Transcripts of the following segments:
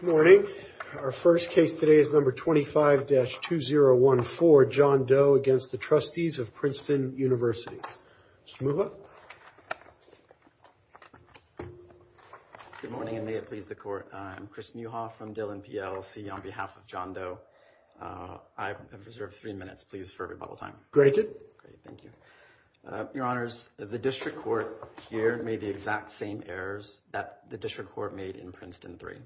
Good morning. Our first case today is number 25-2014, John Doe v. The Trustees of Princeton University. Mr. Muha. Good morning and may it please the Court. I'm Chris Muha from Dillon PLC on behalf of John Doe. I have reserved three minutes, please, for rebuttal time. Great, thank you. Your Honors, the District Court here made the exact same errors that the District Court made in Princeton III.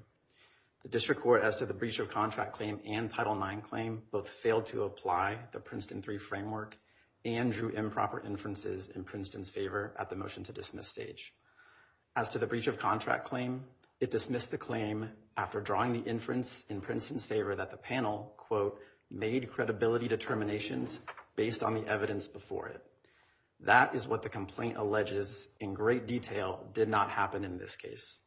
The District Court, as to the breach of contract claim and Title IX claim, both failed to apply the Princeton III framework and drew improper inferences in Princeton's favor at the motion to dismiss stage. As to the breach of contract claim, it dismissed the claim after drawing the inference in Princeton's favor that the panel, quote, made credibility determinations based on the evidence before it. That is what the complaint alleges in great detail did not happen in this case.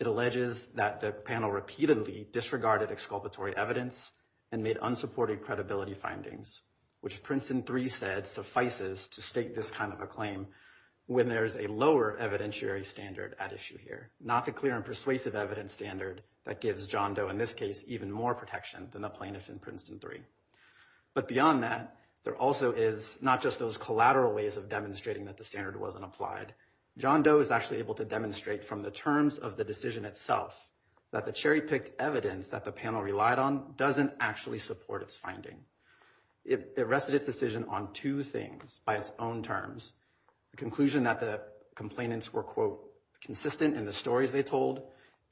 It alleges that the panel repeatedly disregarded exculpatory evidence and made unsupported credibility findings, which Princeton III said suffices to state this kind of a claim when there's a lower evidentiary standard at issue here, not the clear and persuasive evidence standard that gives John Doe, in this case, even more protection than the plaintiff in Princeton III. But beyond that, there also is not just those collateral ways of demonstrating that the standard wasn't applied. John Doe is actually able to demonstrate from the terms of the decision itself that the cherry-picked evidence that the panel relied on doesn't actually support its finding. It rested its decision on two things by its own terms, the conclusion that the complainants were, quote, consistent in the stories they told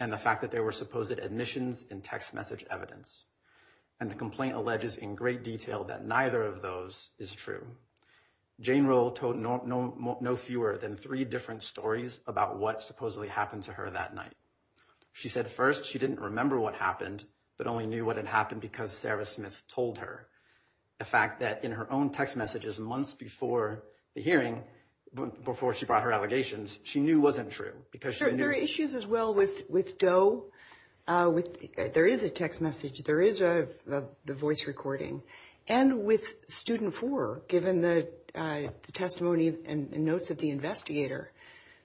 and the fact that they were supposed admissions in text message evidence. And the complaint alleges in great detail that neither of those is true. Jane Roll told no fewer than three different stories about what supposedly happened to her that night. She said first she didn't remember what happened, but only knew what had happened because Sarah Smith told her. The fact that in her own text messages months before the hearing, before she brought her allegations, she knew wasn't true. There are issues as well with Doe. There is a text message. There is the voice recording. And with student four, given the testimony and notes of the investigator.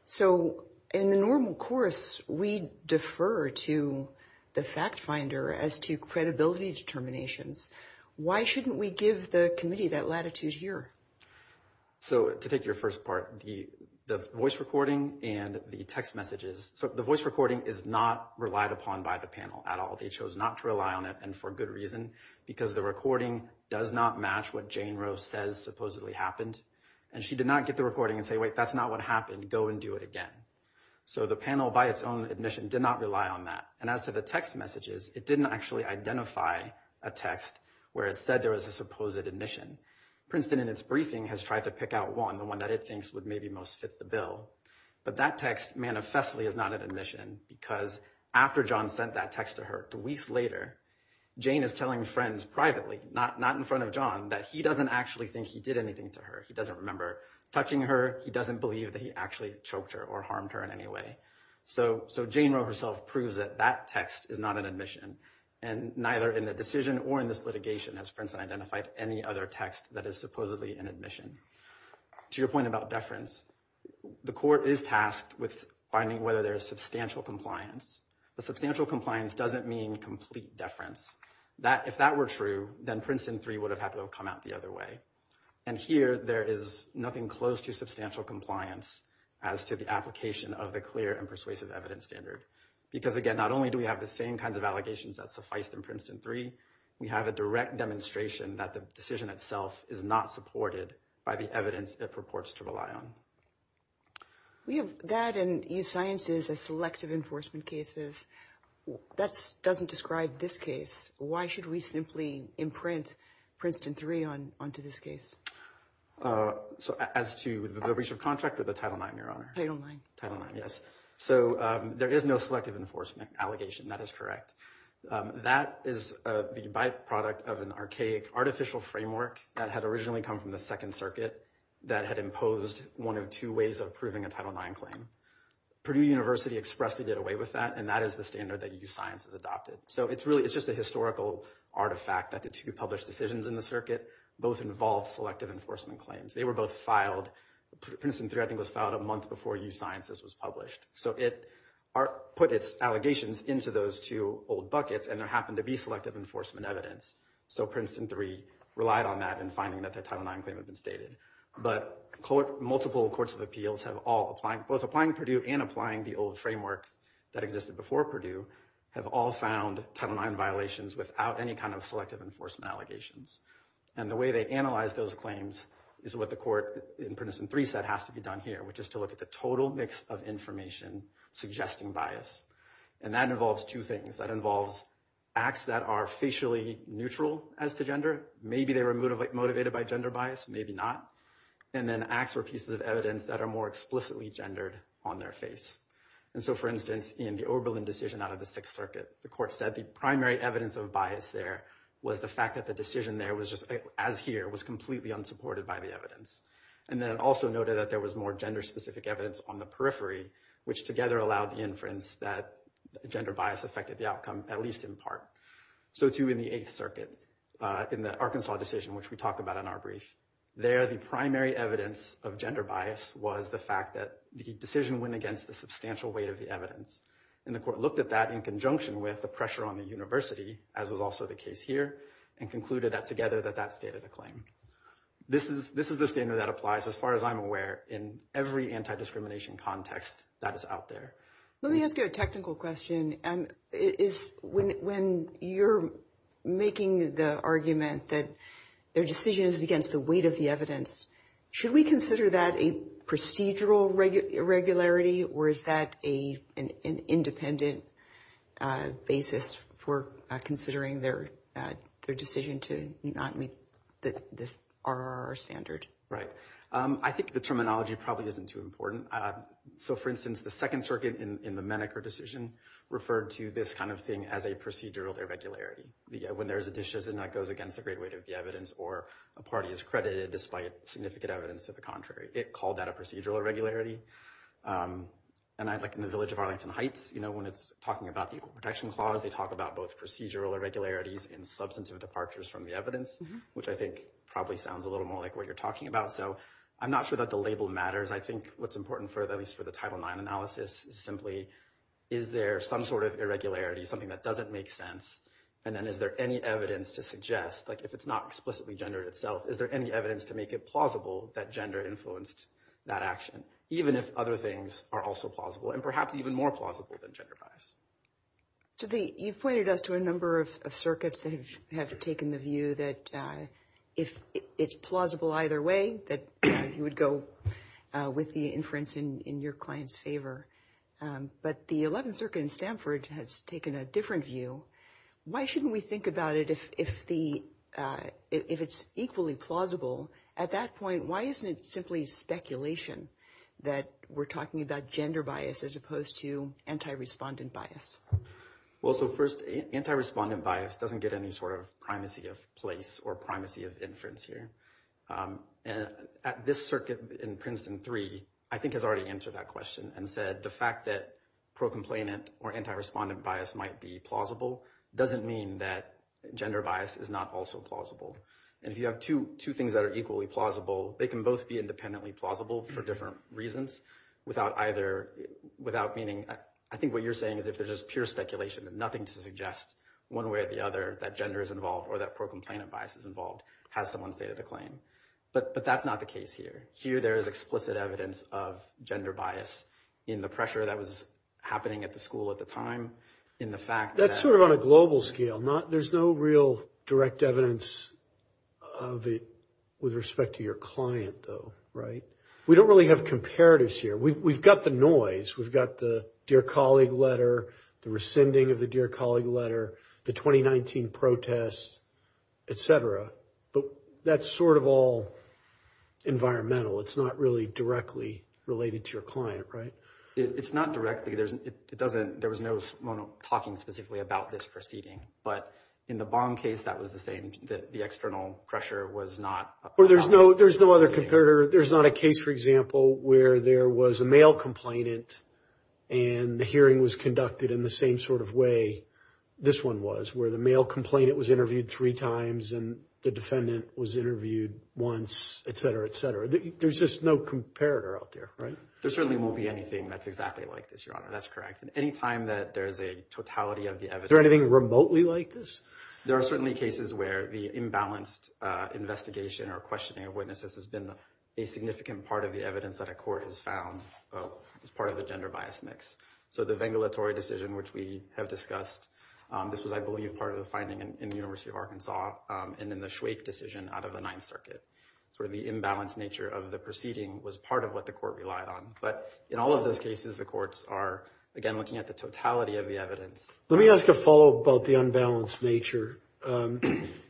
So in the normal course, we defer to the fact finder as to credibility determinations. Why shouldn't we give the committee that latitude here? So to take your first part, the voice recording and the text messages. So the voice recording is not relied upon by the panel at all. They chose not to rely on it. And for good reason, because the recording does not match what Jane Rose says supposedly happened. And she did not get the recording and say, wait, that's not what happened. Go and do it again. So the panel by its own admission did not rely on that. And as to the text messages, it didn't actually identify a text where it said there was a supposed admission. Princeton, in its briefing, has tried to pick out one, the one that it thinks would maybe most fit the bill. But that text manifestly is not an admission because after John sent that text to her two weeks later, Jane is telling friends privately, not in front of John, that he doesn't actually think he did anything to her. He doesn't remember touching her. He doesn't believe that he actually choked her or harmed her in any way. So Jane Rose herself proves that that text is not an admission. And neither in the decision or in this litigation has Princeton identified any other text that is supposedly an admission. To your point about deference, the court is tasked with finding whether there is substantial compliance. But substantial compliance doesn't mean complete deference. If that were true, then Princeton 3 would have had to have come out the other way. And here there is nothing close to substantial compliance as to the application of the clear and persuasive evidence standard. Because again, not only do we have the same kinds of allegations that suffice in Princeton 3, we have a direct demonstration that the decision itself is not supported by the evidence it purports to rely on. We have that and use sciences as selective enforcement cases. That doesn't describe this case. Why should we simply imprint Princeton 3 onto this case? So as to the breach of contract or the Title IX, Your Honor? Title IX. Title IX, yes. So there is no selective enforcement allegation. That is correct. That is the byproduct of an archaic artificial framework that had originally come from the Second Circuit that had imposed one of two ways of proving a Title IX claim. Purdue University expressly did away with that, and that is the standard that use sciences adopted. So it's just a historical artifact that the two published decisions in the circuit both involved selective enforcement claims. They were both filed, Princeton 3 I think was filed a month before use sciences was published. So it put its allegations into those two old buckets, and there happened to be selective enforcement evidence. So Princeton 3 relied on that in finding that the Title IX claim had been stated. But multiple courts of appeals have all, both applying Purdue and applying the old framework that existed before Purdue, have all found Title IX violations without any kind of selective enforcement allegations. And the way they analyzed those claims is what the court in Princeton 3 said has to be done here, which is to look at the total mix of information suggesting bias. And that involves two things. That involves acts that are facially neutral as to gender. Maybe they were motivated by gender bias, maybe not. And then acts or pieces of evidence that are more explicitly gendered on their face. And so, for instance, in the Oberlin decision out of the Sixth Circuit, the court said the primary evidence of bias there was the fact that the decision there was just as here was completely unsupported by the evidence. And then also noted that there was more gender-specific evidence on the periphery, which together allowed the inference that gender bias affected the outcome, at least in part. So, too, in the Eighth Circuit, in the Arkansas decision, which we talk about in our brief, there the primary evidence of gender bias was the fact that the decision went against the substantial weight of the evidence. And the court looked at that in conjunction with the pressure on the university, as was also the case here, and concluded that together that that stated a claim. This is the standard that applies, as far as I'm aware, in every anti-discrimination context that is out there. Let me ask you a technical question. When you're making the argument that their decision is against the weight of the evidence, should we consider that a procedural regularity, or is that an independent basis for considering their decision to not meet the RRR standard? Right. I think the terminology probably isn't too important. So, for instance, the Second Circuit, in the Menacher decision, referred to this kind of thing as a procedural irregularity. When there's a decision that goes against the great weight of the evidence, or a party is credited despite significant evidence to the contrary, it called that a procedural irregularity. And I'd like in the village of Arlington Heights, you know, when it's talking about the Equal Protection Clause, they talk about both procedural irregularities and substantive departures from the evidence, which I think probably sounds a little more like what you're talking about. So, I'm not sure that the label matters. I think what's important, at least for the Title IX analysis, is simply, is there some sort of irregularity, something that doesn't make sense? And then is there any evidence to suggest, like if it's not explicitly gendered itself, is there any evidence to make it plausible that gender influenced that action, even if other things are also plausible, and perhaps even more plausible than gender bias? So, you've pointed us to a number of circuits that have taken the view that if it's plausible either way, that you would go with the inference in your client's favor. But the 11th Circuit in Stanford has taken a different view. Why shouldn't we think about it if it's equally plausible? At that point, why isn't it simply speculation that we're talking about gender bias as opposed to anti-respondent bias? Well, so first, anti-respondent bias doesn't get any sort of primacy of place or primacy of inference here. At this circuit in Princeton III, I think has already answered that question and said the fact that pro-complainant or anti-respondent bias might be plausible doesn't mean that gender bias is not also plausible. And if you have two things that are equally plausible, they can both be independently plausible for different reasons without either, without meaning, I think what you're saying is if there's just pure speculation and nothing to suggest one way or the other that gender is involved or that pro-complainant bias is involved, that has someone's data to claim. But that's not the case here. Here there is explicit evidence of gender bias in the pressure that was happening at the school at the time, in the fact that- That's sort of on a global scale. There's no real direct evidence of it with respect to your client, though, right? We don't really have comparatives here. We've got the noise. We've got the dear colleague letter, the rescinding of the dear colleague letter, the 2019 protests, et cetera. But that's sort of all environmental. It's not really directly related to your client, right? It's not directly. It doesn't, there was no one talking specifically about this proceeding. But in the Bong case, that was the same, that the external pressure was not- There's no other comparator. There's not a case, for example, where there was a male complainant and the hearing was conducted in the same sort of way this one was, where the male complainant was interviewed three times and the defendant was interviewed once, et cetera, et cetera. There's just no comparator out there, right? There certainly won't be anything that's exactly like this, Your Honor. That's correct. And any time that there is a totality of the evidence- Is there anything remotely like this? There are certainly cases where the imbalanced investigation or questioning of witnesses has been a significant part of the evidence that a court has found as part of the gender bias mix. So the vengulatory decision, which we have discussed, this was, I believe, part of the finding in the University of Arkansas and in the Schweik decision out of the Ninth Circuit. Sort of the imbalanced nature of the proceeding was part of what the court relied on. But in all of those cases, the courts are, again, looking at the totality of the evidence. Let me ask a follow-up about the unbalanced nature.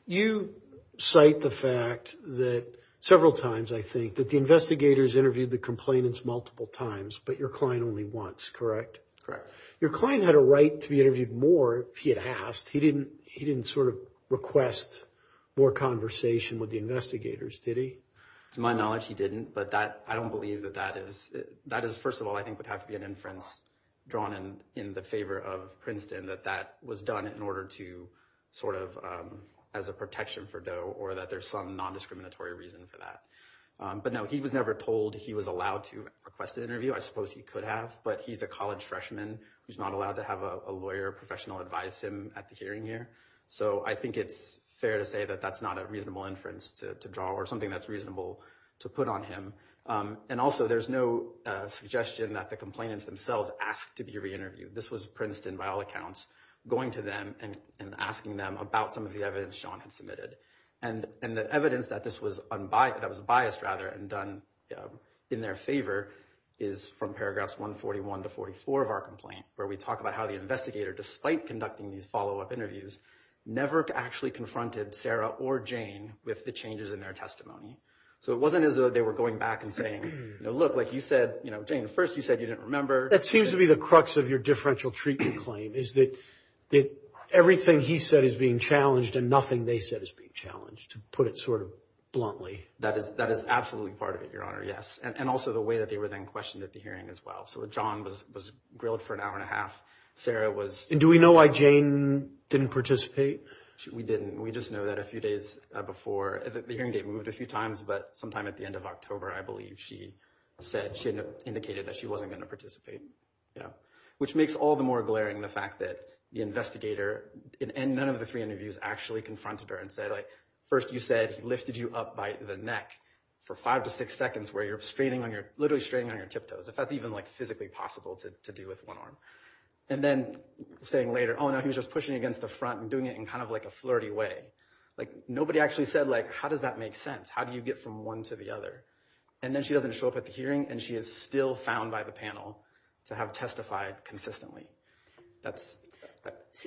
You cite the fact that several times, I think, that the investigators interviewed the complainants multiple times, but your client only once, correct? Correct. Your client had a right to be interviewed more if he had asked. He didn't sort of request more conversation with the investigators, did he? To my knowledge, he didn't, but I don't believe that that is- That is, first of all, I think would have to be an inference drawn in the favor of Princeton that that was done in order to sort of- As a protection for Doe or that there's some non-discriminatory reason for that. But no, he was never told he was allowed to request an interview. I suppose he could have, but he's a college freshman who's not allowed to have a lawyer professional advise him at the hearing here. So I think it's fair to say that that's not a reasonable inference to draw or something that's reasonable to put on him. And also, there's no suggestion that the complainants themselves asked to be re-interviewed. This was Princeton, by all accounts, going to them and asking them about some of the evidence Sean had submitted. And the evidence that this was unbiased- that was biased, rather, and done in their favor is from paragraphs 141 to 44 of our complaint, where we talk about how the investigator, despite conducting these follow-up interviews, never actually confronted Sarah or Jane with the changes in their testimony. So it wasn't as though they were going back and saying, you know, look, like you said, you know, Jane, first you said you didn't remember. That seems to be the crux of your differential treatment claim is that everything he said is being challenged and nothing they said is being challenged, to put it sort of bluntly. That is absolutely part of it, Your Honor, yes, and also the way that they were then questioned at the hearing as well. So John was grilled for an hour and a half. Sarah was- And do we know why Jane didn't participate? We didn't. We just know that a few days before- the hearing date moved a few times, but sometime at the end of October, I believe, she said- she indicated that she wasn't going to participate. Which makes all the more glaring the fact that the investigator, in none of the three interviews, actually confronted her and said, like, first you said he lifted you up by the neck for five to six seconds, where you're straining on your- literally straining on your tiptoes, if that's even, like, physically possible to do with one arm. And then saying later, oh, no, he was just pushing against the front and doing it in kind of like a flirty way. Like, nobody actually said, like, how does that make sense? How do you get from one to the other? And then she doesn't show up at the hearing, and she is still found by the panel to have testified consistently.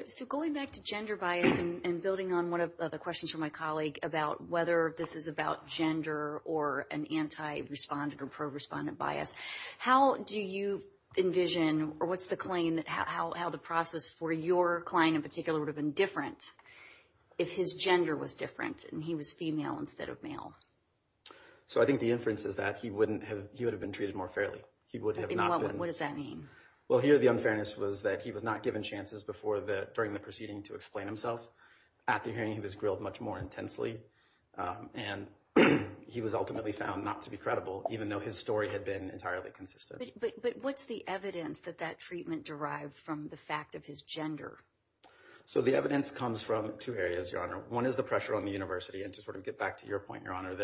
So going back to gender bias and building on one of the questions from my colleague about whether this is about gender or an anti-respondent or pro-respondent bias, how do you envision, or what's the claim, how the process for your client in particular would have been different if his gender was different and he was female instead of male? So I think the inference is that he wouldn't have- he would have been treated more fairly. What does that mean? Well, here the unfairness was that he was not given chances before the- during the proceeding to explain himself. At the hearing, he was grilled much more intensely, and he was ultimately found not to be credible, even though his story had been entirely consistent. But what's the evidence that that treatment derived from the fact of his gender? So the evidence comes from two areas, Your Honor. One is the pressure on the university, and to sort of get back to your point, Your Honor,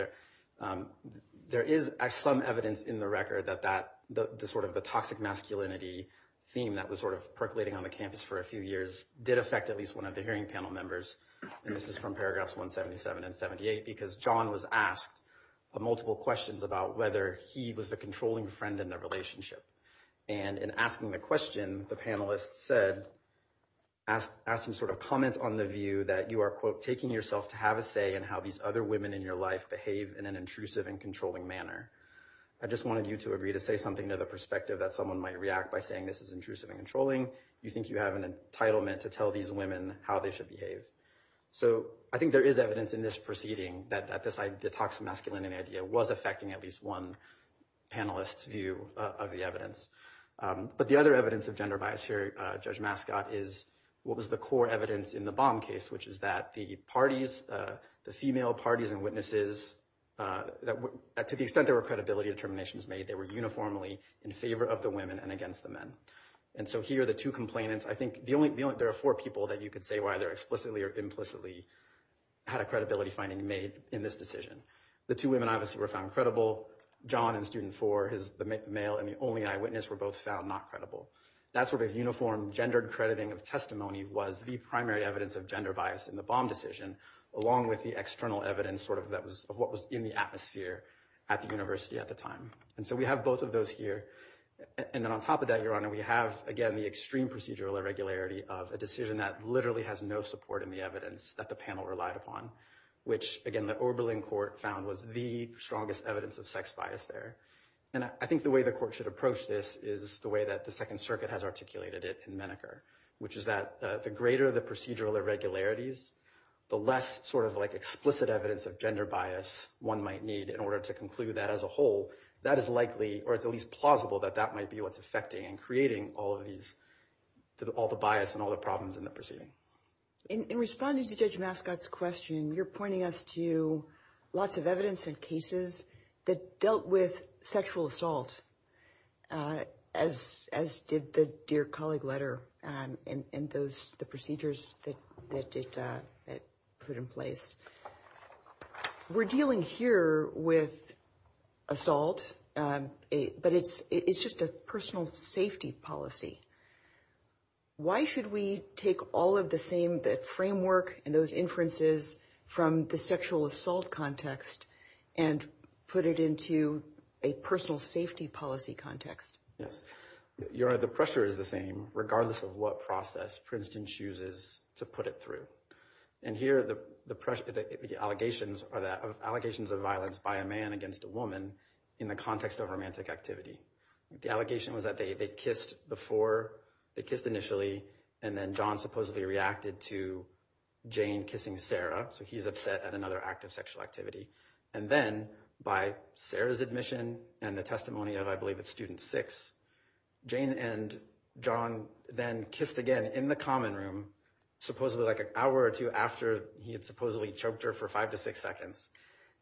there is some evidence in the record that that- the sort of the toxic masculinity theme that was sort of percolating on the campus for a few years did affect at least one of the hearing panel members. And this is from paragraphs 177 and 78, because John was asked multiple questions about whether he was the controlling friend in their relationship. And in asking the question, the panelists said- asked some sort of comments on the view that you are, quote, taking yourself to have a say in how these other women in your life behave in an intrusive and controlling manner. I just wanted you to agree to say something to the perspective that someone might react by saying this is intrusive and controlling. You think you have an entitlement to tell these women how they should behave. So I think there is evidence in this proceeding that this toxic masculinity idea was affecting at least one panelist's view of the evidence. But the other evidence of gender bias here, Judge Mascot, is what was the core evidence in the Baum case, which is that the parties, the female parties and witnesses, to the extent there were credibility determinations made, they were uniformly in favor of the women and against the men. And so here are the two complainants. I think the only- there are four people that you could say were either explicitly or implicitly had a credibility finding made in this decision. The two women obviously were found credible. John in student four, the male and the only eyewitness, were both found not credible. That sort of uniform gendered crediting of testimony was the primary evidence of gender bias in the Baum decision, along with the external evidence sort of that was- of what was in the atmosphere at the university at the time. And so we have both of those here. And then on top of that, Your Honor, we have, again, the extreme procedural irregularity of a decision that literally has no support in the evidence that the panel relied upon, which, again, the Oberlin court found was the strongest evidence of sex bias there. And I think the way the court should approach this is the way that the Second Circuit has articulated it in Menneker, which is that the greater the procedural irregularities, the less sort of like explicit evidence of gender bias one might need in order to conclude that as a whole, that is likely or at least plausible that that might be what's affecting and creating all of these- all the bias and all the problems in the proceeding. In responding to Judge Mascot's question, you're pointing us to lots of evidence and cases that dealt with sexual assault, as did the dear colleague letter and those procedures that it put in place. We're dealing here with assault, but it's just a personal safety policy. Why should we take all of the same framework and those inferences from the sexual assault context and put it into a personal safety policy context? Yes. Your Honor, the pressure is the same, regardless of what process Princeton chooses to put it through. And here, the allegations are that- allegations of violence by a man against a woman in the context of romantic activity. The allegation was that they kissed before- they kissed initially, and then John supposedly reacted to Jane kissing Sarah, so he's upset at another act of sexual activity. And then, by Sarah's admission and the testimony of, I believe it's student six, Jane and John then kissed again in the common room, supposedly like an hour or two after he had supposedly choked her for five to six seconds.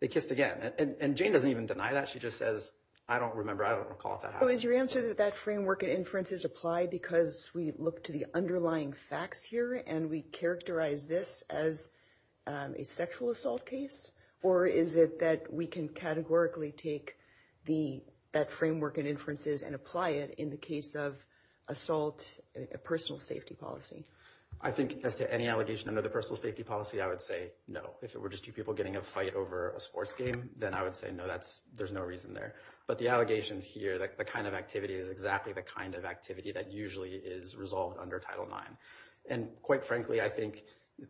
They kissed again. And Jane doesn't even deny that. She just says, I don't remember, I don't recall if that happened. So is your answer that that framework and inferences apply because we look to the underlying facts here and we characterize this as a sexual assault case? Or is it that we can categorically take the- that framework and inferences and apply it in the case of assault, a personal safety policy? I think as to any allegation under the personal safety policy, I would say no. If it were just two people getting a fight over a sports game, then I would say no, that's- there's no reason there. But the allegations here, the kind of activity is exactly the kind of activity that usually is resolved under Title IX. And quite frankly, I think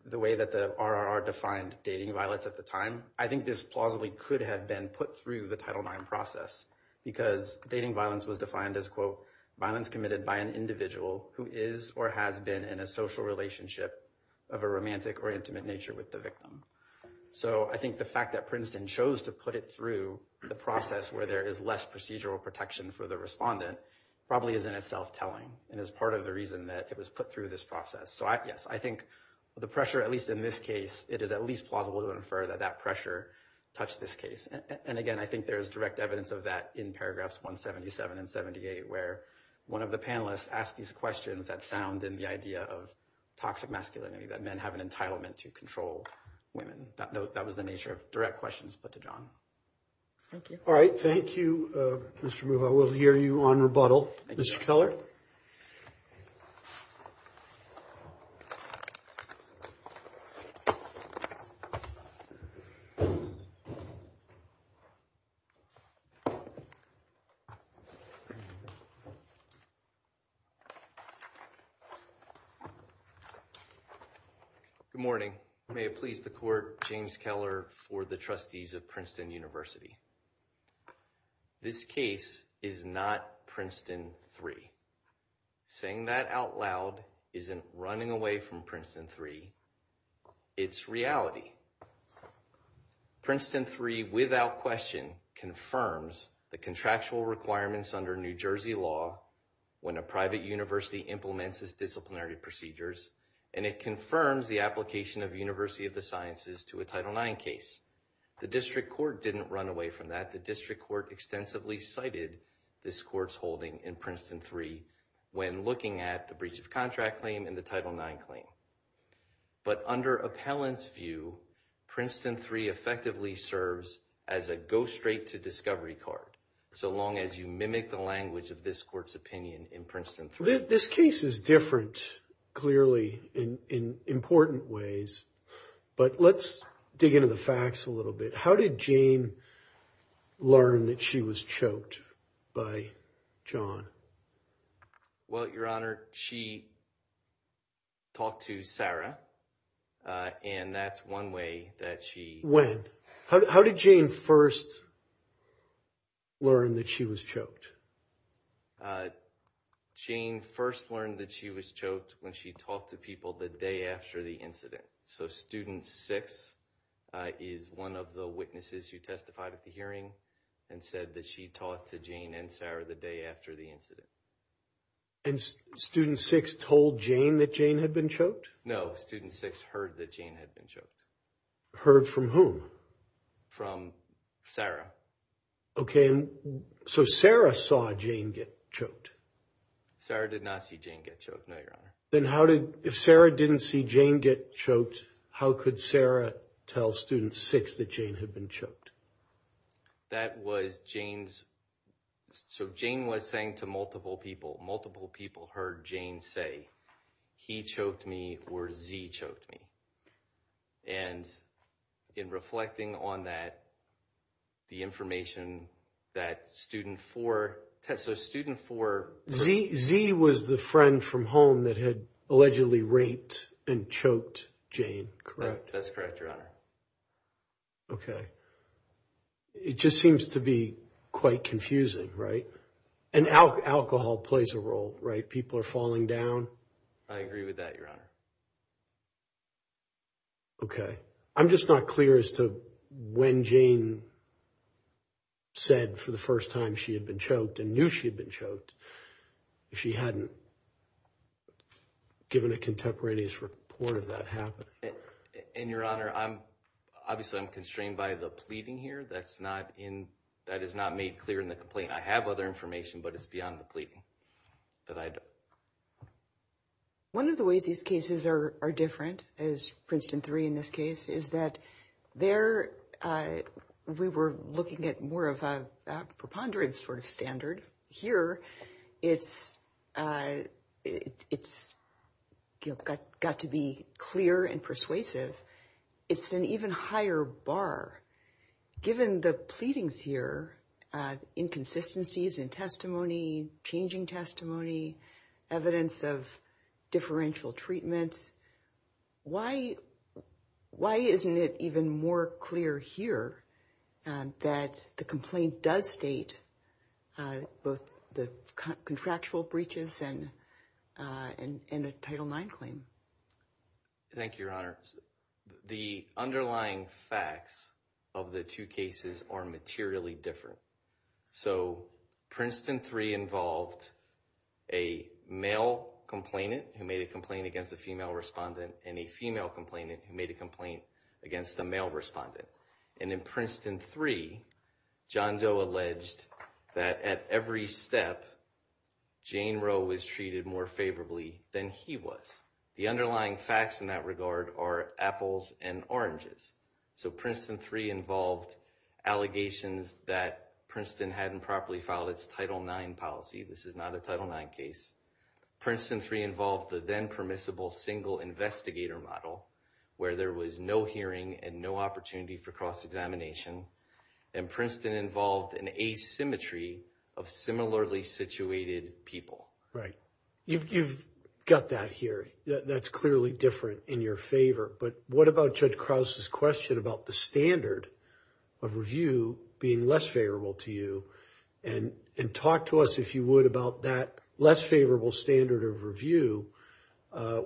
the way that the RRR defined dating violence at the time, I think this plausibly could have been put through the Title IX process. Because dating violence was defined as, quote, violence committed by an individual who is or has been in a social relationship of a romantic or intimate nature with the victim. So I think the fact that Princeton chose to put it through the process where there is less procedural protection for the respondent probably is in itself telling. And is part of the reason that it was put through this process. So, yes, I think the pressure, at least in this case, it is at least plausible to infer that that pressure touched this case. And again, I think there is direct evidence of that in paragraphs 177 and 78, where one of the panelists asked these questions that sound in the idea of toxic masculinity, that men have an entitlement to control women. That was the nature of direct questions put to John. All right. Thank you, Mr. Moore. I will hear you on rebuttal. Mr. Keller. Good morning. May it please the court. James Keller for the trustees of Princeton University. This case is not Princeton 3. Saying that out loud isn't running away from Princeton 3. It's reality. Princeton 3 without question confirms the contractual requirements under New Jersey law. When a private university implements disciplinary procedures, and it confirms the application of University of the sciences to a title 9 case. The district court didn't run away from that. The district court extensively cited this court's holding in Princeton 3. When looking at the breach of contract claim in the title 9 claim. But under appellant's view, Princeton 3 effectively serves as a go straight to discovery card. So long as you mimic the language of this court's opinion in Princeton 3. This case is different, clearly, in important ways. But let's dig into the facts a little bit. How did Jane learn that she was choked by John? Well, your honor, she talked to Sarah. And that's one way that she went. How did Jane first learn that she was choked? Jane first learned that she was choked when she talked to people the day after the incident. So student six is one of the witnesses who testified at the hearing and said that she talked to Jane and Sarah the day after the incident. And student six told Jane that Jane had been choked? No, student six heard that Jane had been choked. Heard from whom? From Sarah. Okay. So Sarah saw Jane get choked. Sarah did not see Jane get choked. No, your honor. Then how did — if Sarah didn't see Jane get choked, how could Sarah tell student six that Jane had been choked? That was Jane's — so Jane was saying to multiple people. Multiple people heard Jane say, he choked me or Z choked me. And in reflecting on that, the information that student four — so student four — So Z was the friend from home that had allegedly raped and choked Jane, correct? That's correct, your honor. Okay. It just seems to be quite confusing, right? And alcohol plays a role, right? People are falling down. I agree with that, your honor. Okay. I'm just not clear as to when Jane said for the first time she had been choked and knew she had been choked, if she hadn't given a contemporaneous report of that happening. And, your honor, I'm — obviously I'm constrained by the pleading here. That's not in — that is not made clear in the complaint. I have other information, but it's beyond the pleading that I — One of the ways these cases are different, as Princeton III in this case, is that there we were looking at more of a preponderance sort of standard. Here it's got to be clear and persuasive. It's an even higher bar. Given the pleadings here, inconsistencies in testimony, changing testimony, evidence of differential treatment, why isn't it even more clear here that the complaint does state both the contractual breaches and a Title IX claim? Thank you, your honor. The underlying facts of the two cases are materially different. So Princeton III involved a male complainant who made a complaint against a female respondent and a female complainant who made a complaint against a male respondent. And in Princeton III, John Doe alleged that at every step, Jane Roe was treated more favorably than he was. The underlying facts in that regard are apples and oranges. So Princeton III involved allegations that Princeton hadn't properly filed its Title IX policy. This is not a Title IX case. Princeton III involved the then permissible single investigator model, where there was no hearing and no opportunity for cross-examination. And Princeton involved an asymmetry of similarly situated people. Right. You've got that here. That's clearly different in your favor. But what about Judge Krause's question about the standard of review being less favorable to you? And talk to us, if you would, about that less favorable standard of review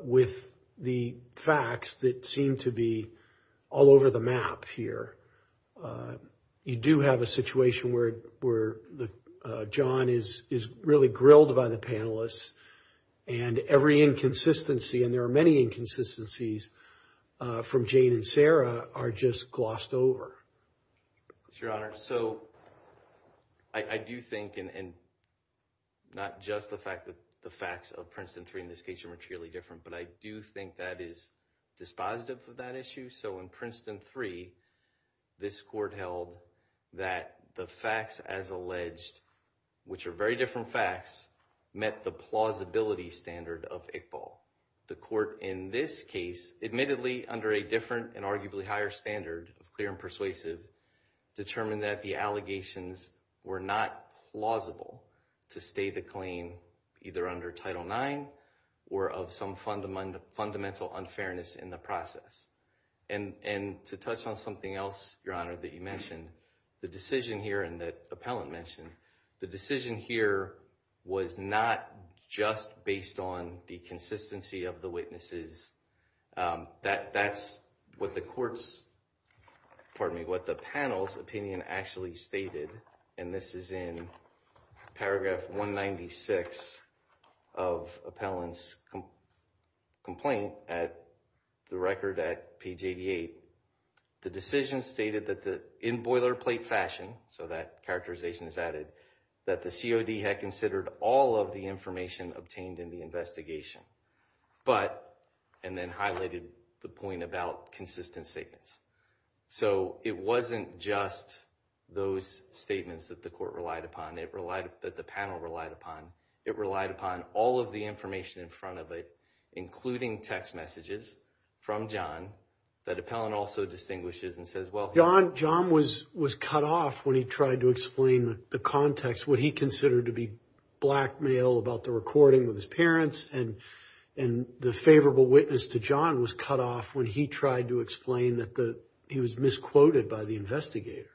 with the facts that seem to be all over the map here. You do have a situation where John is really grilled by the panelists, and every inconsistency, and there are many inconsistencies from Jane and Sarah, are just glossed over. Yes, Your Honor. So I do think, and not just the fact that the facts of Princeton III in this case are materially different, but I do think that is dispositive of that issue. So in Princeton III, this court held that the facts as alleged, which are very different facts, met the plausibility standard of Iqbal. The court in this case, admittedly under a different and arguably higher standard of clear and persuasive, And to touch on something else, Your Honor, that you mentioned, the decision here and that appellant mentioned, the decision here was not just based on the consistency of the witnesses. That's what the panel's opinion actually stated, and this is in paragraph 196 of appellant's complaint at the record at page 88. The decision stated that in boilerplate fashion, so that characterization is added, that the COD had considered all of the information obtained in the investigation, but, and then highlighted the point about consistent statements. So it wasn't just those statements that the court relied upon, that the panel relied upon. It relied upon all of the information in front of it, including text messages from John, that appellant also distinguishes and says, well, John was cut off when he tried to explain the context, what he considered to be blackmail about the recording with his parents, and the favorable witness to John was cut off when he tried to explain that he was misquoted by the investigator.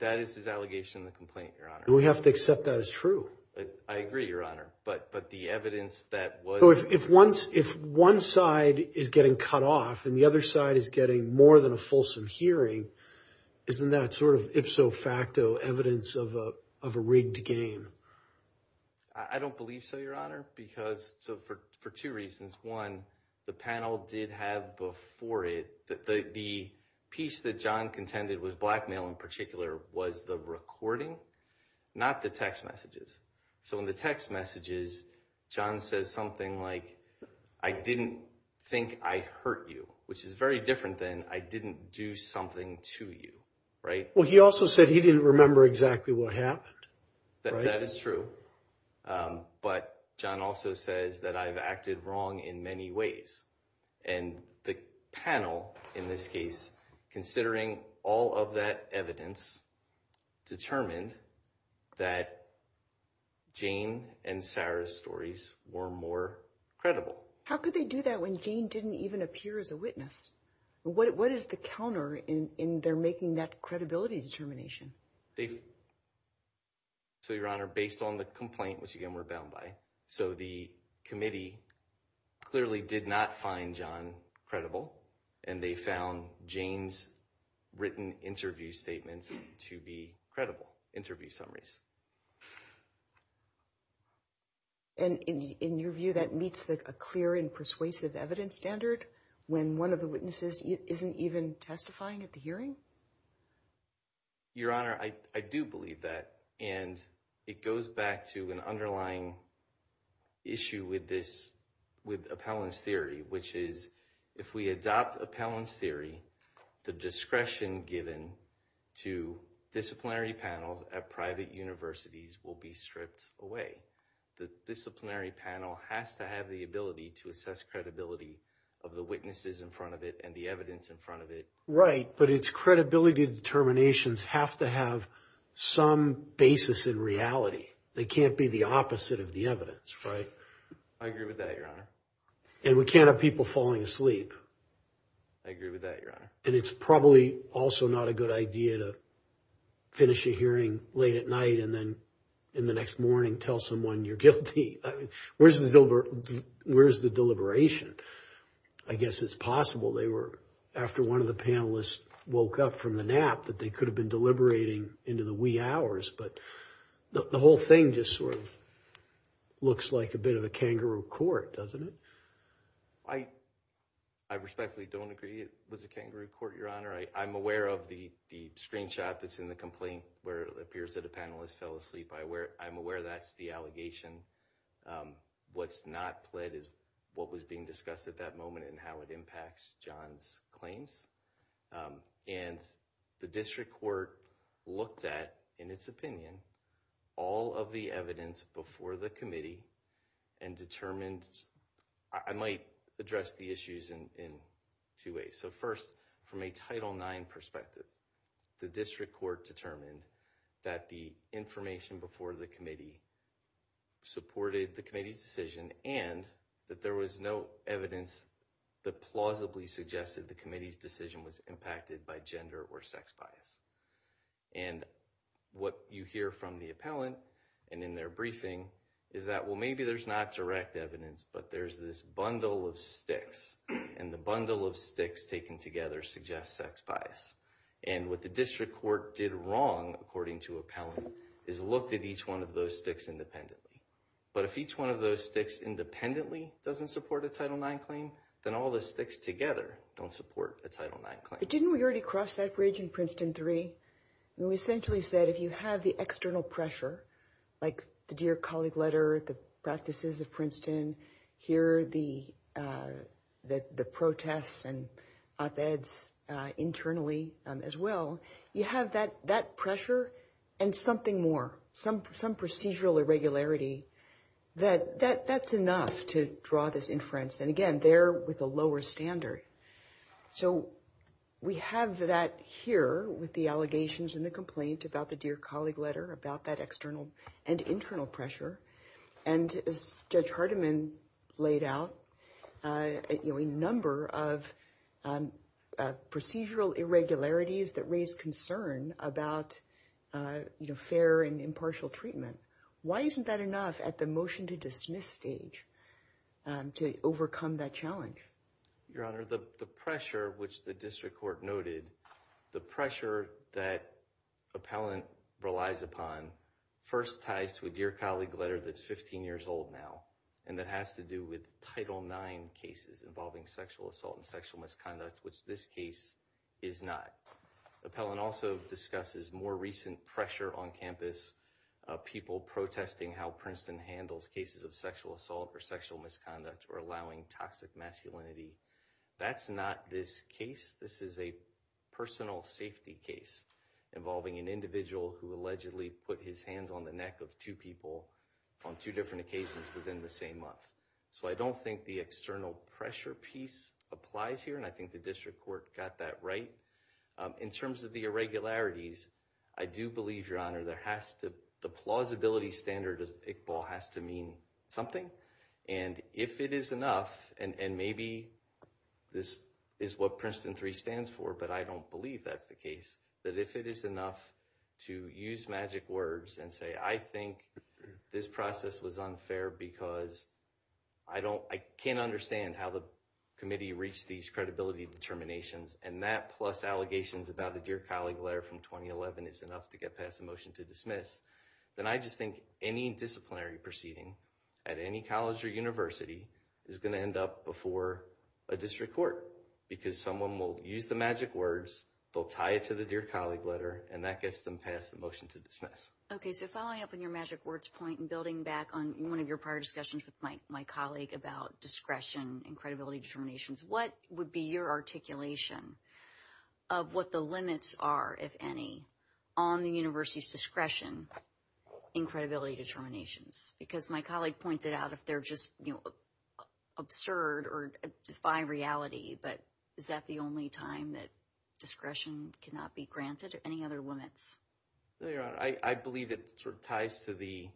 That is his allegation in the complaint, Your Honor. We have to accept that as true. I agree, Your Honor, but the evidence that was... If one side is getting cut off and the other side is getting more than a fulsome hearing, isn't that sort of ipso facto evidence of a rigged game? I don't believe so, Your Honor, because, for two reasons. One, the panel did have before it, the piece that John contended was blackmail in particular, was the recording, not the text messages. So in the text messages, John says something like, I didn't think I hurt you, which is very different than I didn't do something to you, right? Well, he also said he didn't remember exactly what happened. That is true, but John also says that I've acted wrong in many ways, and the panel, in this case, considering all of that evidence, determined that Jane and Sarah's stories were more credible. How could they do that when Jane didn't even appear as a witness? What is the counter in their making that credibility determination? So, Your Honor, based on the complaint, which, again, we're bound by, so the committee clearly did not find John credible, and they found Jane's written interview statements to be credible interview summaries. And in your view, that meets a clear and persuasive evidence standard when one of the witnesses isn't even testifying at the hearing? Your Honor, I do believe that, and it goes back to an underlying issue with this, with appellant's theory, which is if we adopt appellant's theory, the discretion given to disciplinary panels at private universities will be stripped away. The disciplinary panel has to have the ability to assess credibility of the witnesses in front of it and the evidence in front of it. Right, but its credibility determinations have to have some basis in reality. They can't be the opposite of the evidence, right? I agree with that, Your Honor. And we can't have people falling asleep. I agree with that, Your Honor. And it's probably also not a good idea to finish a hearing late at night and then in the next morning tell someone you're guilty. Where's the deliberation? I guess it's possible they were, after one of the panelists woke up from the nap, that they could have been deliberating into the wee hours. But the whole thing just sort of looks like a bit of a kangaroo court, doesn't it? I respectfully don't agree it was a kangaroo court, Your Honor. I'm aware of the screenshot that's in the complaint where it appears that a panelist fell asleep. I'm aware that's the allegation. What's not pled is what was being discussed at that moment and how it impacts John's claims. And the district court looked at, in its opinion, all of the evidence before the committee and determined— I might address the issues in two ways. So first, from a Title IX perspective, the district court determined that the information before the committee supported the committee's decision and that there was no evidence that plausibly suggested the committee's decision was impacted by gender or sex bias. And what you hear from the appellant and in their briefing is that, well, maybe there's not direct evidence, but there's this bundle of sticks, and the bundle of sticks taken together suggests sex bias. And what the district court did wrong, according to appellant, is looked at each one of those sticks independently. But if each one of those sticks independently doesn't support a Title IX claim, then all the sticks together don't support a Title IX claim. But didn't we already cross that bridge in Princeton III? We essentially said if you have the external pressure, like the Dear Colleague letter, the practices of Princeton, here are the protests and op-eds internally as well, you have that pressure and something more, some procedural irregularity. That's enough to draw this inference. And again, they're with a lower standard. So we have that here with the allegations and the complaint about the Dear Colleague letter, about that external and internal pressure. And as Judge Hardiman laid out, a number of procedural irregularities that raise concern about fair and impartial treatment. Why isn't that enough at the motion to dismiss stage to overcome that challenge? Your Honor, the pressure, which the district court noted, the pressure that appellant relies upon first ties to a Dear Colleague letter that's 15 years old now, and that has to do with Title IX cases involving sexual assault and sexual misconduct, which this case is not. Appellant also discusses more recent pressure on campus, people protesting how Princeton handles cases of sexual assault or sexual misconduct or allowing toxic masculinity. That's not this case. This is a personal safety case involving an individual who allegedly put his hands on the neck of two people on two different occasions within the same month. So I don't think the external pressure piece applies here, and I think the district court got that right. In terms of the irregularities, I do believe, Your Honor, the plausibility standard of Iqbal has to mean something. And if it is enough, and maybe this is what Princeton 3 stands for, but I don't believe that's the case, that if it is enough to use magic words and say, I think this process was unfair because I can't understand how the committee reached these credibility determinations, and that plus allegations about the Dear Colleague letter from 2011 is enough to get past the motion to dismiss, then I just think any disciplinary proceeding at any college or university is going to end up before a district court because someone will use the magic words, they'll tie it to the Dear Colleague letter, and that gets them past the motion to dismiss. Okay, so following up on your magic words point and building back on one of your prior discussions with my colleague about discretion and credibility determinations, what would be your articulation of what the limits are, if any, on the university's discretion in credibility determinations? Because my colleague pointed out if they're just absurd or defy reality, but is that the only time that discretion cannot be granted or any other limits? I believe it ties to the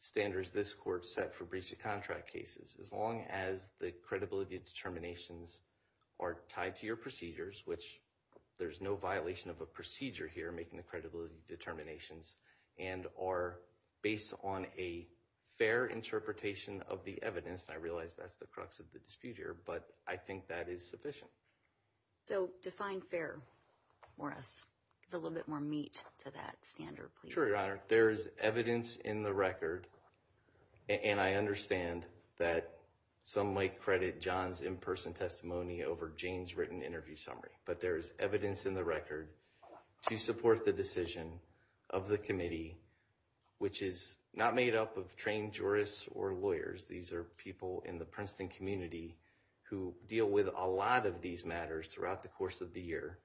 standards this court set for breach of contract cases. As long as the credibility determinations are tied to your procedures, which there's no violation of a procedure here making the credibility determinations, and are based on a fair interpretation of the evidence, and I realize that's the crux of the dispute here, but I think that is sufficient. So define fair for us. A little bit more meat to that standard, please. Sure, Your Honor. There is evidence in the record, and I understand that some might credit John's in-person testimony over Jane's written interview summary, but there is evidence in the record to support the decision of the committee, which is not made up of trained jurists or lawyers. These are people in the Princeton community who deal with a lot of these matters throughout the course of the year,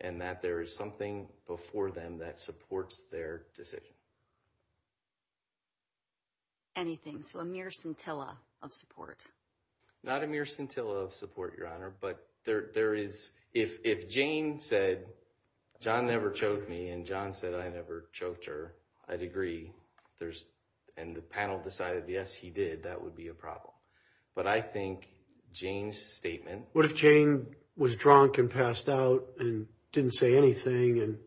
and that there is something before them that supports their decision. Anything? So a mere scintilla of support? Not a mere scintilla of support, Your Honor, but if Jane said, John never choked me, and John said I never choked her, I'd agree. And the panel decided, yes, he did, that would be a problem. But I think Jane's statement... What if Jane was drunk and passed out and didn't say anything, and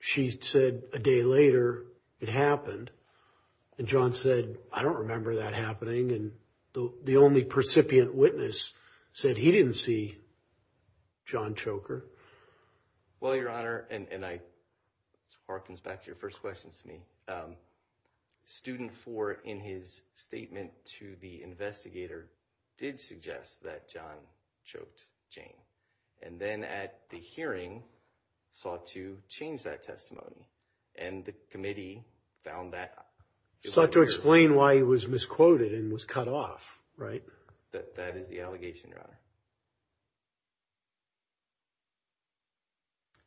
she said a day later it happened, and John said, I don't remember that happening, and the only percipient witness said he didn't see John choke her? Well, Your Honor, and this harkens back to your first question to me, student four in his statement to the investigator did suggest that John choked Jane, and then at the hearing sought to change that testimony, and the committee found that... Sought to explain why he was misquoted and was cut off, right? That is the allegation, Your Honor.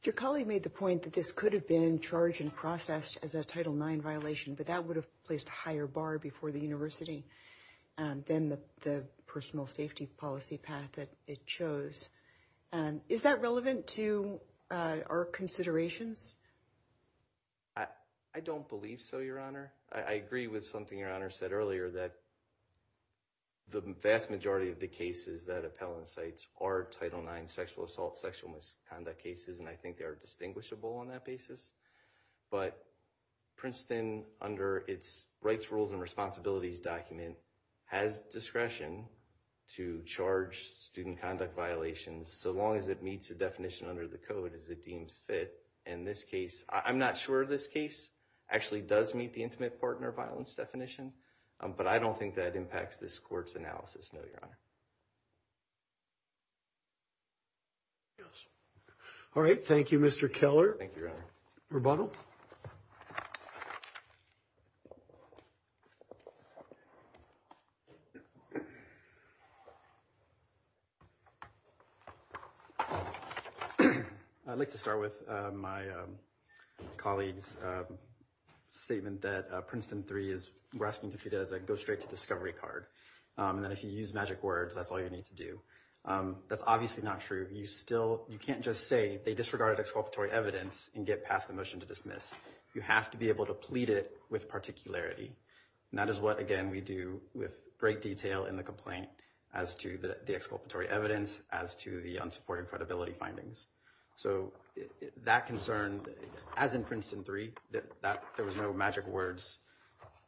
Your colleague made the point that this could have been charged and processed as a Title IX violation, but that would have placed a higher bar before the university than the personal safety policy path that it chose. Is that relevant to our considerations? I don't believe so, Your Honor. I agree with something Your Honor said earlier that the vast majority of the cases that appellant cites are Title IX sexual assault, sexual misconduct cases, and I think they are distinguishable on that basis, but Princeton under its Rights, Rules, and Responsibilities document has discretion to charge student conduct violations so long as it meets the definition under the code as it deems fit, and this case, I'm not sure this case actually does meet the intimate partner violence definition, but I don't think that impacts this court's analysis, no, Your Honor. All right. Thank you, Mr. Keller. Thank you, Your Honor. Rebuttal. I'd like to start with my colleague's statement that Princeton 3 is wrestling with it as a go-straight-to-discovery card, and that if you use magic words, that's all you need to do. That's obviously not true. You can't just say they disregarded exculpatory evidence and get past the motion to dismiss. You have to be able to plead it with particularity, and that is what, again, we do with great detail in the complaint as to the exculpatory evidence, as to the unsupported credibility findings. So that concern, as in Princeton 3, there was no magic words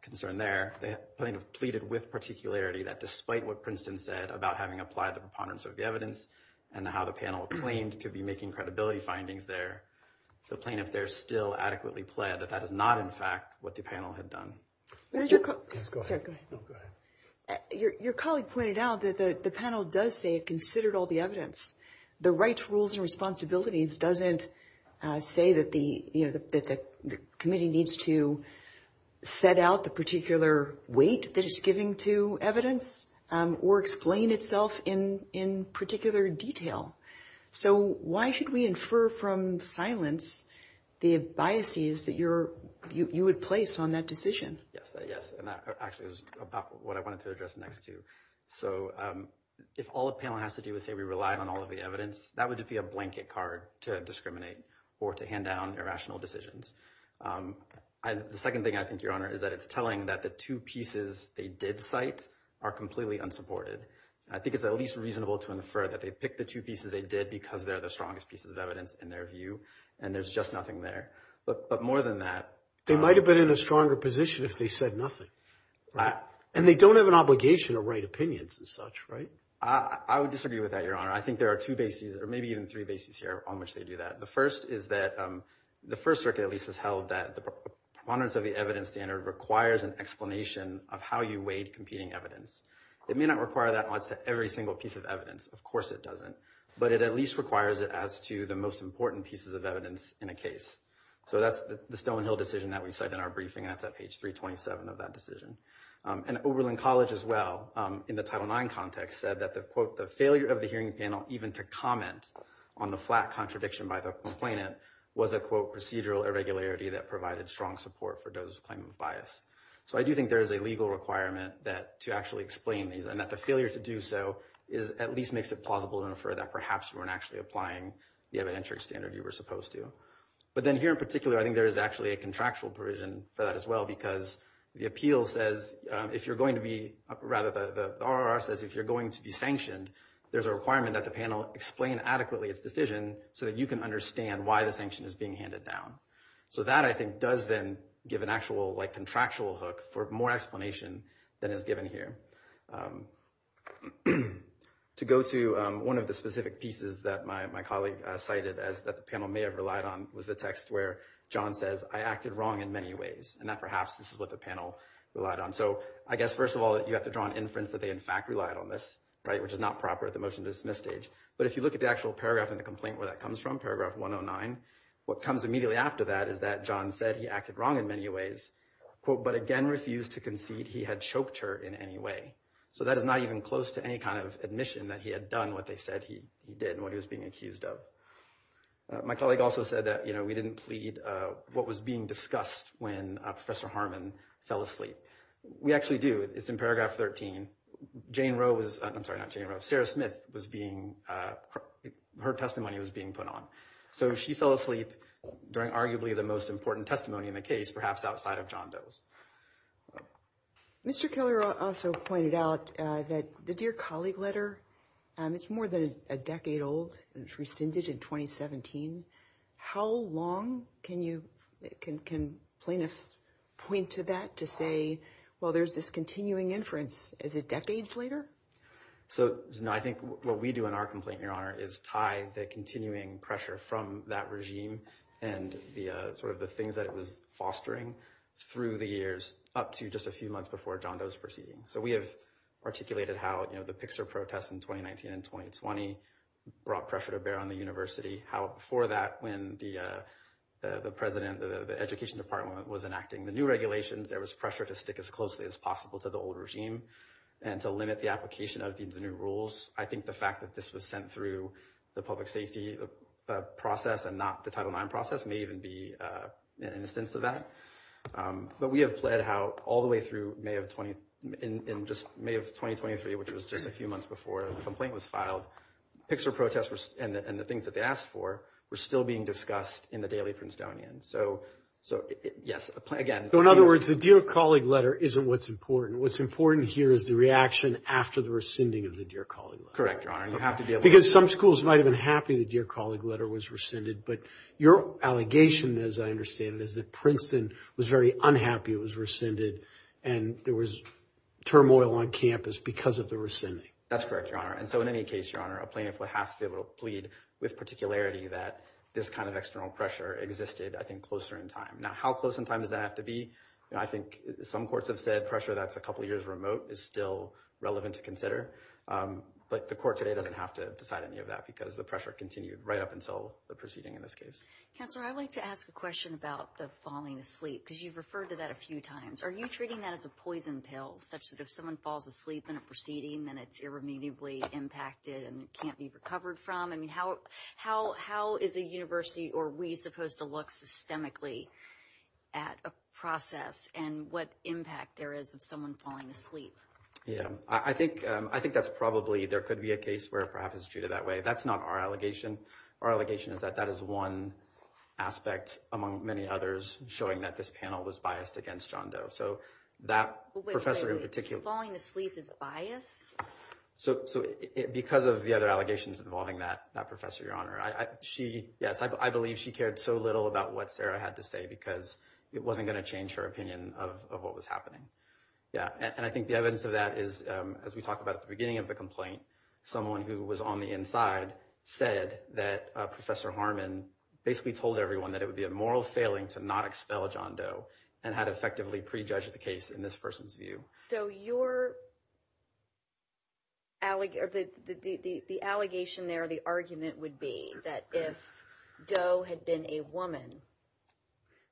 concern there. The plaintiff pleaded with particularity that despite what Princeton said about having applied the preponderance of the evidence and how the panel claimed to be making credibility findings there, the plaintiff there still adequately pled that that is not, in fact, what the panel had done. Go ahead. Your colleague pointed out that the panel does say it considered all the evidence. The rights, rules, and responsibilities doesn't say that the committee needs to set out the particular weight that it's giving to evidence or explain itself in particular detail. So why should we infer from silence the biases that you would place on that decision? Yes, and that actually is what I wanted to address next, too. So if all a panel has to do is say we rely on all of the evidence, that would be a blanket card to discriminate or to hand down irrational decisions. The second thing I think, Your Honor, is that it's telling that the two pieces they did cite are completely unsupported. I think it's at least reasonable to infer that they picked the two pieces they did because they're the strongest pieces of evidence in their view, and there's just nothing there. But more than that— They might have been in a stronger position if they said nothing. And they don't have an obligation to write opinions and such, right? I would disagree with that, Your Honor. I think there are two bases or maybe even three bases here on which they do that. The first is that the First Circuit at least has held that the preponderance of the evidence standard requires an explanation of how you weighed competing evidence. It may not require that in every single piece of evidence. Of course it doesn't. But it at least requires it as to the most important pieces of evidence in a case. So that's the Stonehill decision that we cite in our briefing. That's at page 327 of that decision. And Oberlin College as well, in the Title IX context, said that the, quote, the failure of the hearing panel even to comment on the flat contradiction by the complainant was a, quote, procedural irregularity that provided strong support for those claiming bias. So I do think there is a legal requirement to actually explain these and that the failure to do so at least makes it plausible to infer that perhaps you weren't actually applying the evidence standard you were supposed to. But then here in particular I think there is actually a contractual provision for that as well because the appeal says if you're going to be, rather the RRR says if you're going to be sanctioned, there's a requirement that the panel explain adequately its decision so that you can understand why the sanction is being handed down. So that I think does then give an actual contractual hook for more explanation than is given here. To go to one of the specific pieces that my colleague cited that the panel may have relied on was the text where John says, I acted wrong in many ways. And that perhaps this is what the panel relied on. So I guess first of all you have to draw an inference that they in fact relied on this, right, which is not proper at the motion to dismiss stage. But if you look at the actual paragraph in the complaint where that comes from, paragraph 109, what comes immediately after that is that John said he acted wrong in many ways, quote, but again refused to concede he had choked her in any way. So that is not even close to any kind of admission that he had done what they said he did and what he was being accused of. My colleague also said that, you know, we didn't plead what was being discussed when Professor Harmon fell asleep. We actually do. It's in paragraph 13. Jane Rowe was, I'm sorry, not Jane Rowe, Sarah Smith was being, her testimony was being put on. So she fell asleep during arguably the most important testimony in the case, perhaps outside of John Doe's. Mr. Keller also pointed out that the Dear Colleague letter, it's more than a decade old. It was rescinded in 2017. How long can you, can plaintiffs point to that to say, well, there's this continuing inference? Is it decades later? So I think what we do in our complaint, Your Honor, is tie the continuing pressure from that regime and the sort of the things that it was fostering through the years up to just a few months before John Doe's proceeding. So we have articulated how, you know, the Pixar protests in 2019 and 2020 brought pressure to bear on the university. How before that, when the president, the education department was enacting the new regulations, there was pressure to stick as closely as possible to the old regime and to limit the application of the new rules. I think the fact that this was sent through the public safety process and not the Title IX process may even be an instance of that. But we have pled how all the way through May of 20, in just May of 2023, which was just a few months before the complaint was filed, Pixar protests and the things that they asked for were still being discussed in the Daily Princetonian. So, yes, again. So in other words, the Dear Colleague letter isn't what's important. What's important here is the reaction after the rescinding of the Dear Colleague letter. Correct, Your Honor. Because some schools might have been happy the Dear Colleague letter was rescinded, but your allegation, as I understand it, is that Princeton was very unhappy it was rescinded and there was turmoil on campus because of the rescinding. That's correct, Your Honor. And so in any case, Your Honor, a plaintiff would have to plead with particularity that this kind of external pressure existed, I think, closer in time. Now, how close in time does that have to be? I think some courts have said pressure that's a couple years remote is still relevant to consider. But the court today doesn't have to decide any of that because the pressure continued right up until the proceeding in this case. Counselor, I'd like to ask a question about the falling asleep, because you've referred to that a few times. Are you treating that as a poison pill, such that if someone falls asleep in a proceeding, then it's irremediably impacted and can't be recovered from? I mean, how is a university or we supposed to look systemically at a process and what impact there is of someone falling asleep? Yeah, I think that's probably, there could be a case where it perhaps is treated that way. That's not our allegation. Our allegation is that that is one aspect, among many others, showing that this panel was biased against John Doe. So that professor in particular... Wait, so falling asleep is bias? So because of the other allegations involving that professor, Your Honor, she, yes, I believe she cared so little about what Sarah had to say because it wasn't going to change her opinion of what was happening. Yeah, and I think the evidence of that is, as we talked about at the beginning of the complaint, someone who was on the inside said that Professor Harmon basically told everyone that it would be a moral failing to not expel John Doe and had effectively prejudged the case in this person's view. So your, the allegation there, the argument would be that if Doe had been a woman,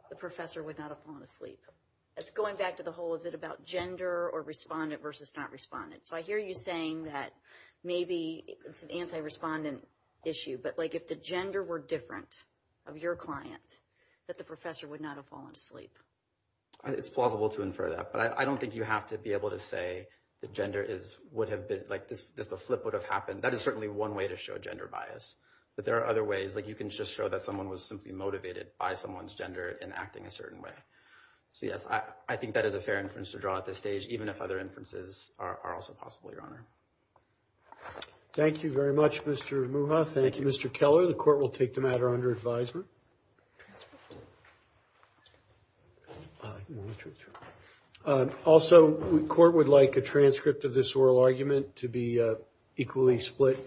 the professor would not have fallen asleep. That's going back to the whole, is it about gender or respondent versus not respondent. So I hear you saying that maybe it's an anti-respondent issue, but like if the gender were different of your client, that the professor would not have fallen asleep. It's plausible to infer that, but I don't think you have to be able to say that gender is, would have been, like just a flip would have happened. That is certainly one way to show gender bias. But there are other ways, like you can just show that someone was simply motivated by someone's gender in acting a certain way. So yes, I think that is a fair inference to draw at this stage, even if other inferences are also possible, Your Honor. Thank you very much, Mr. Muha. Thank you, Mr. Keller. The court will take the matter under advisement. Also, the court would like a transcript of this oral argument to be equally split.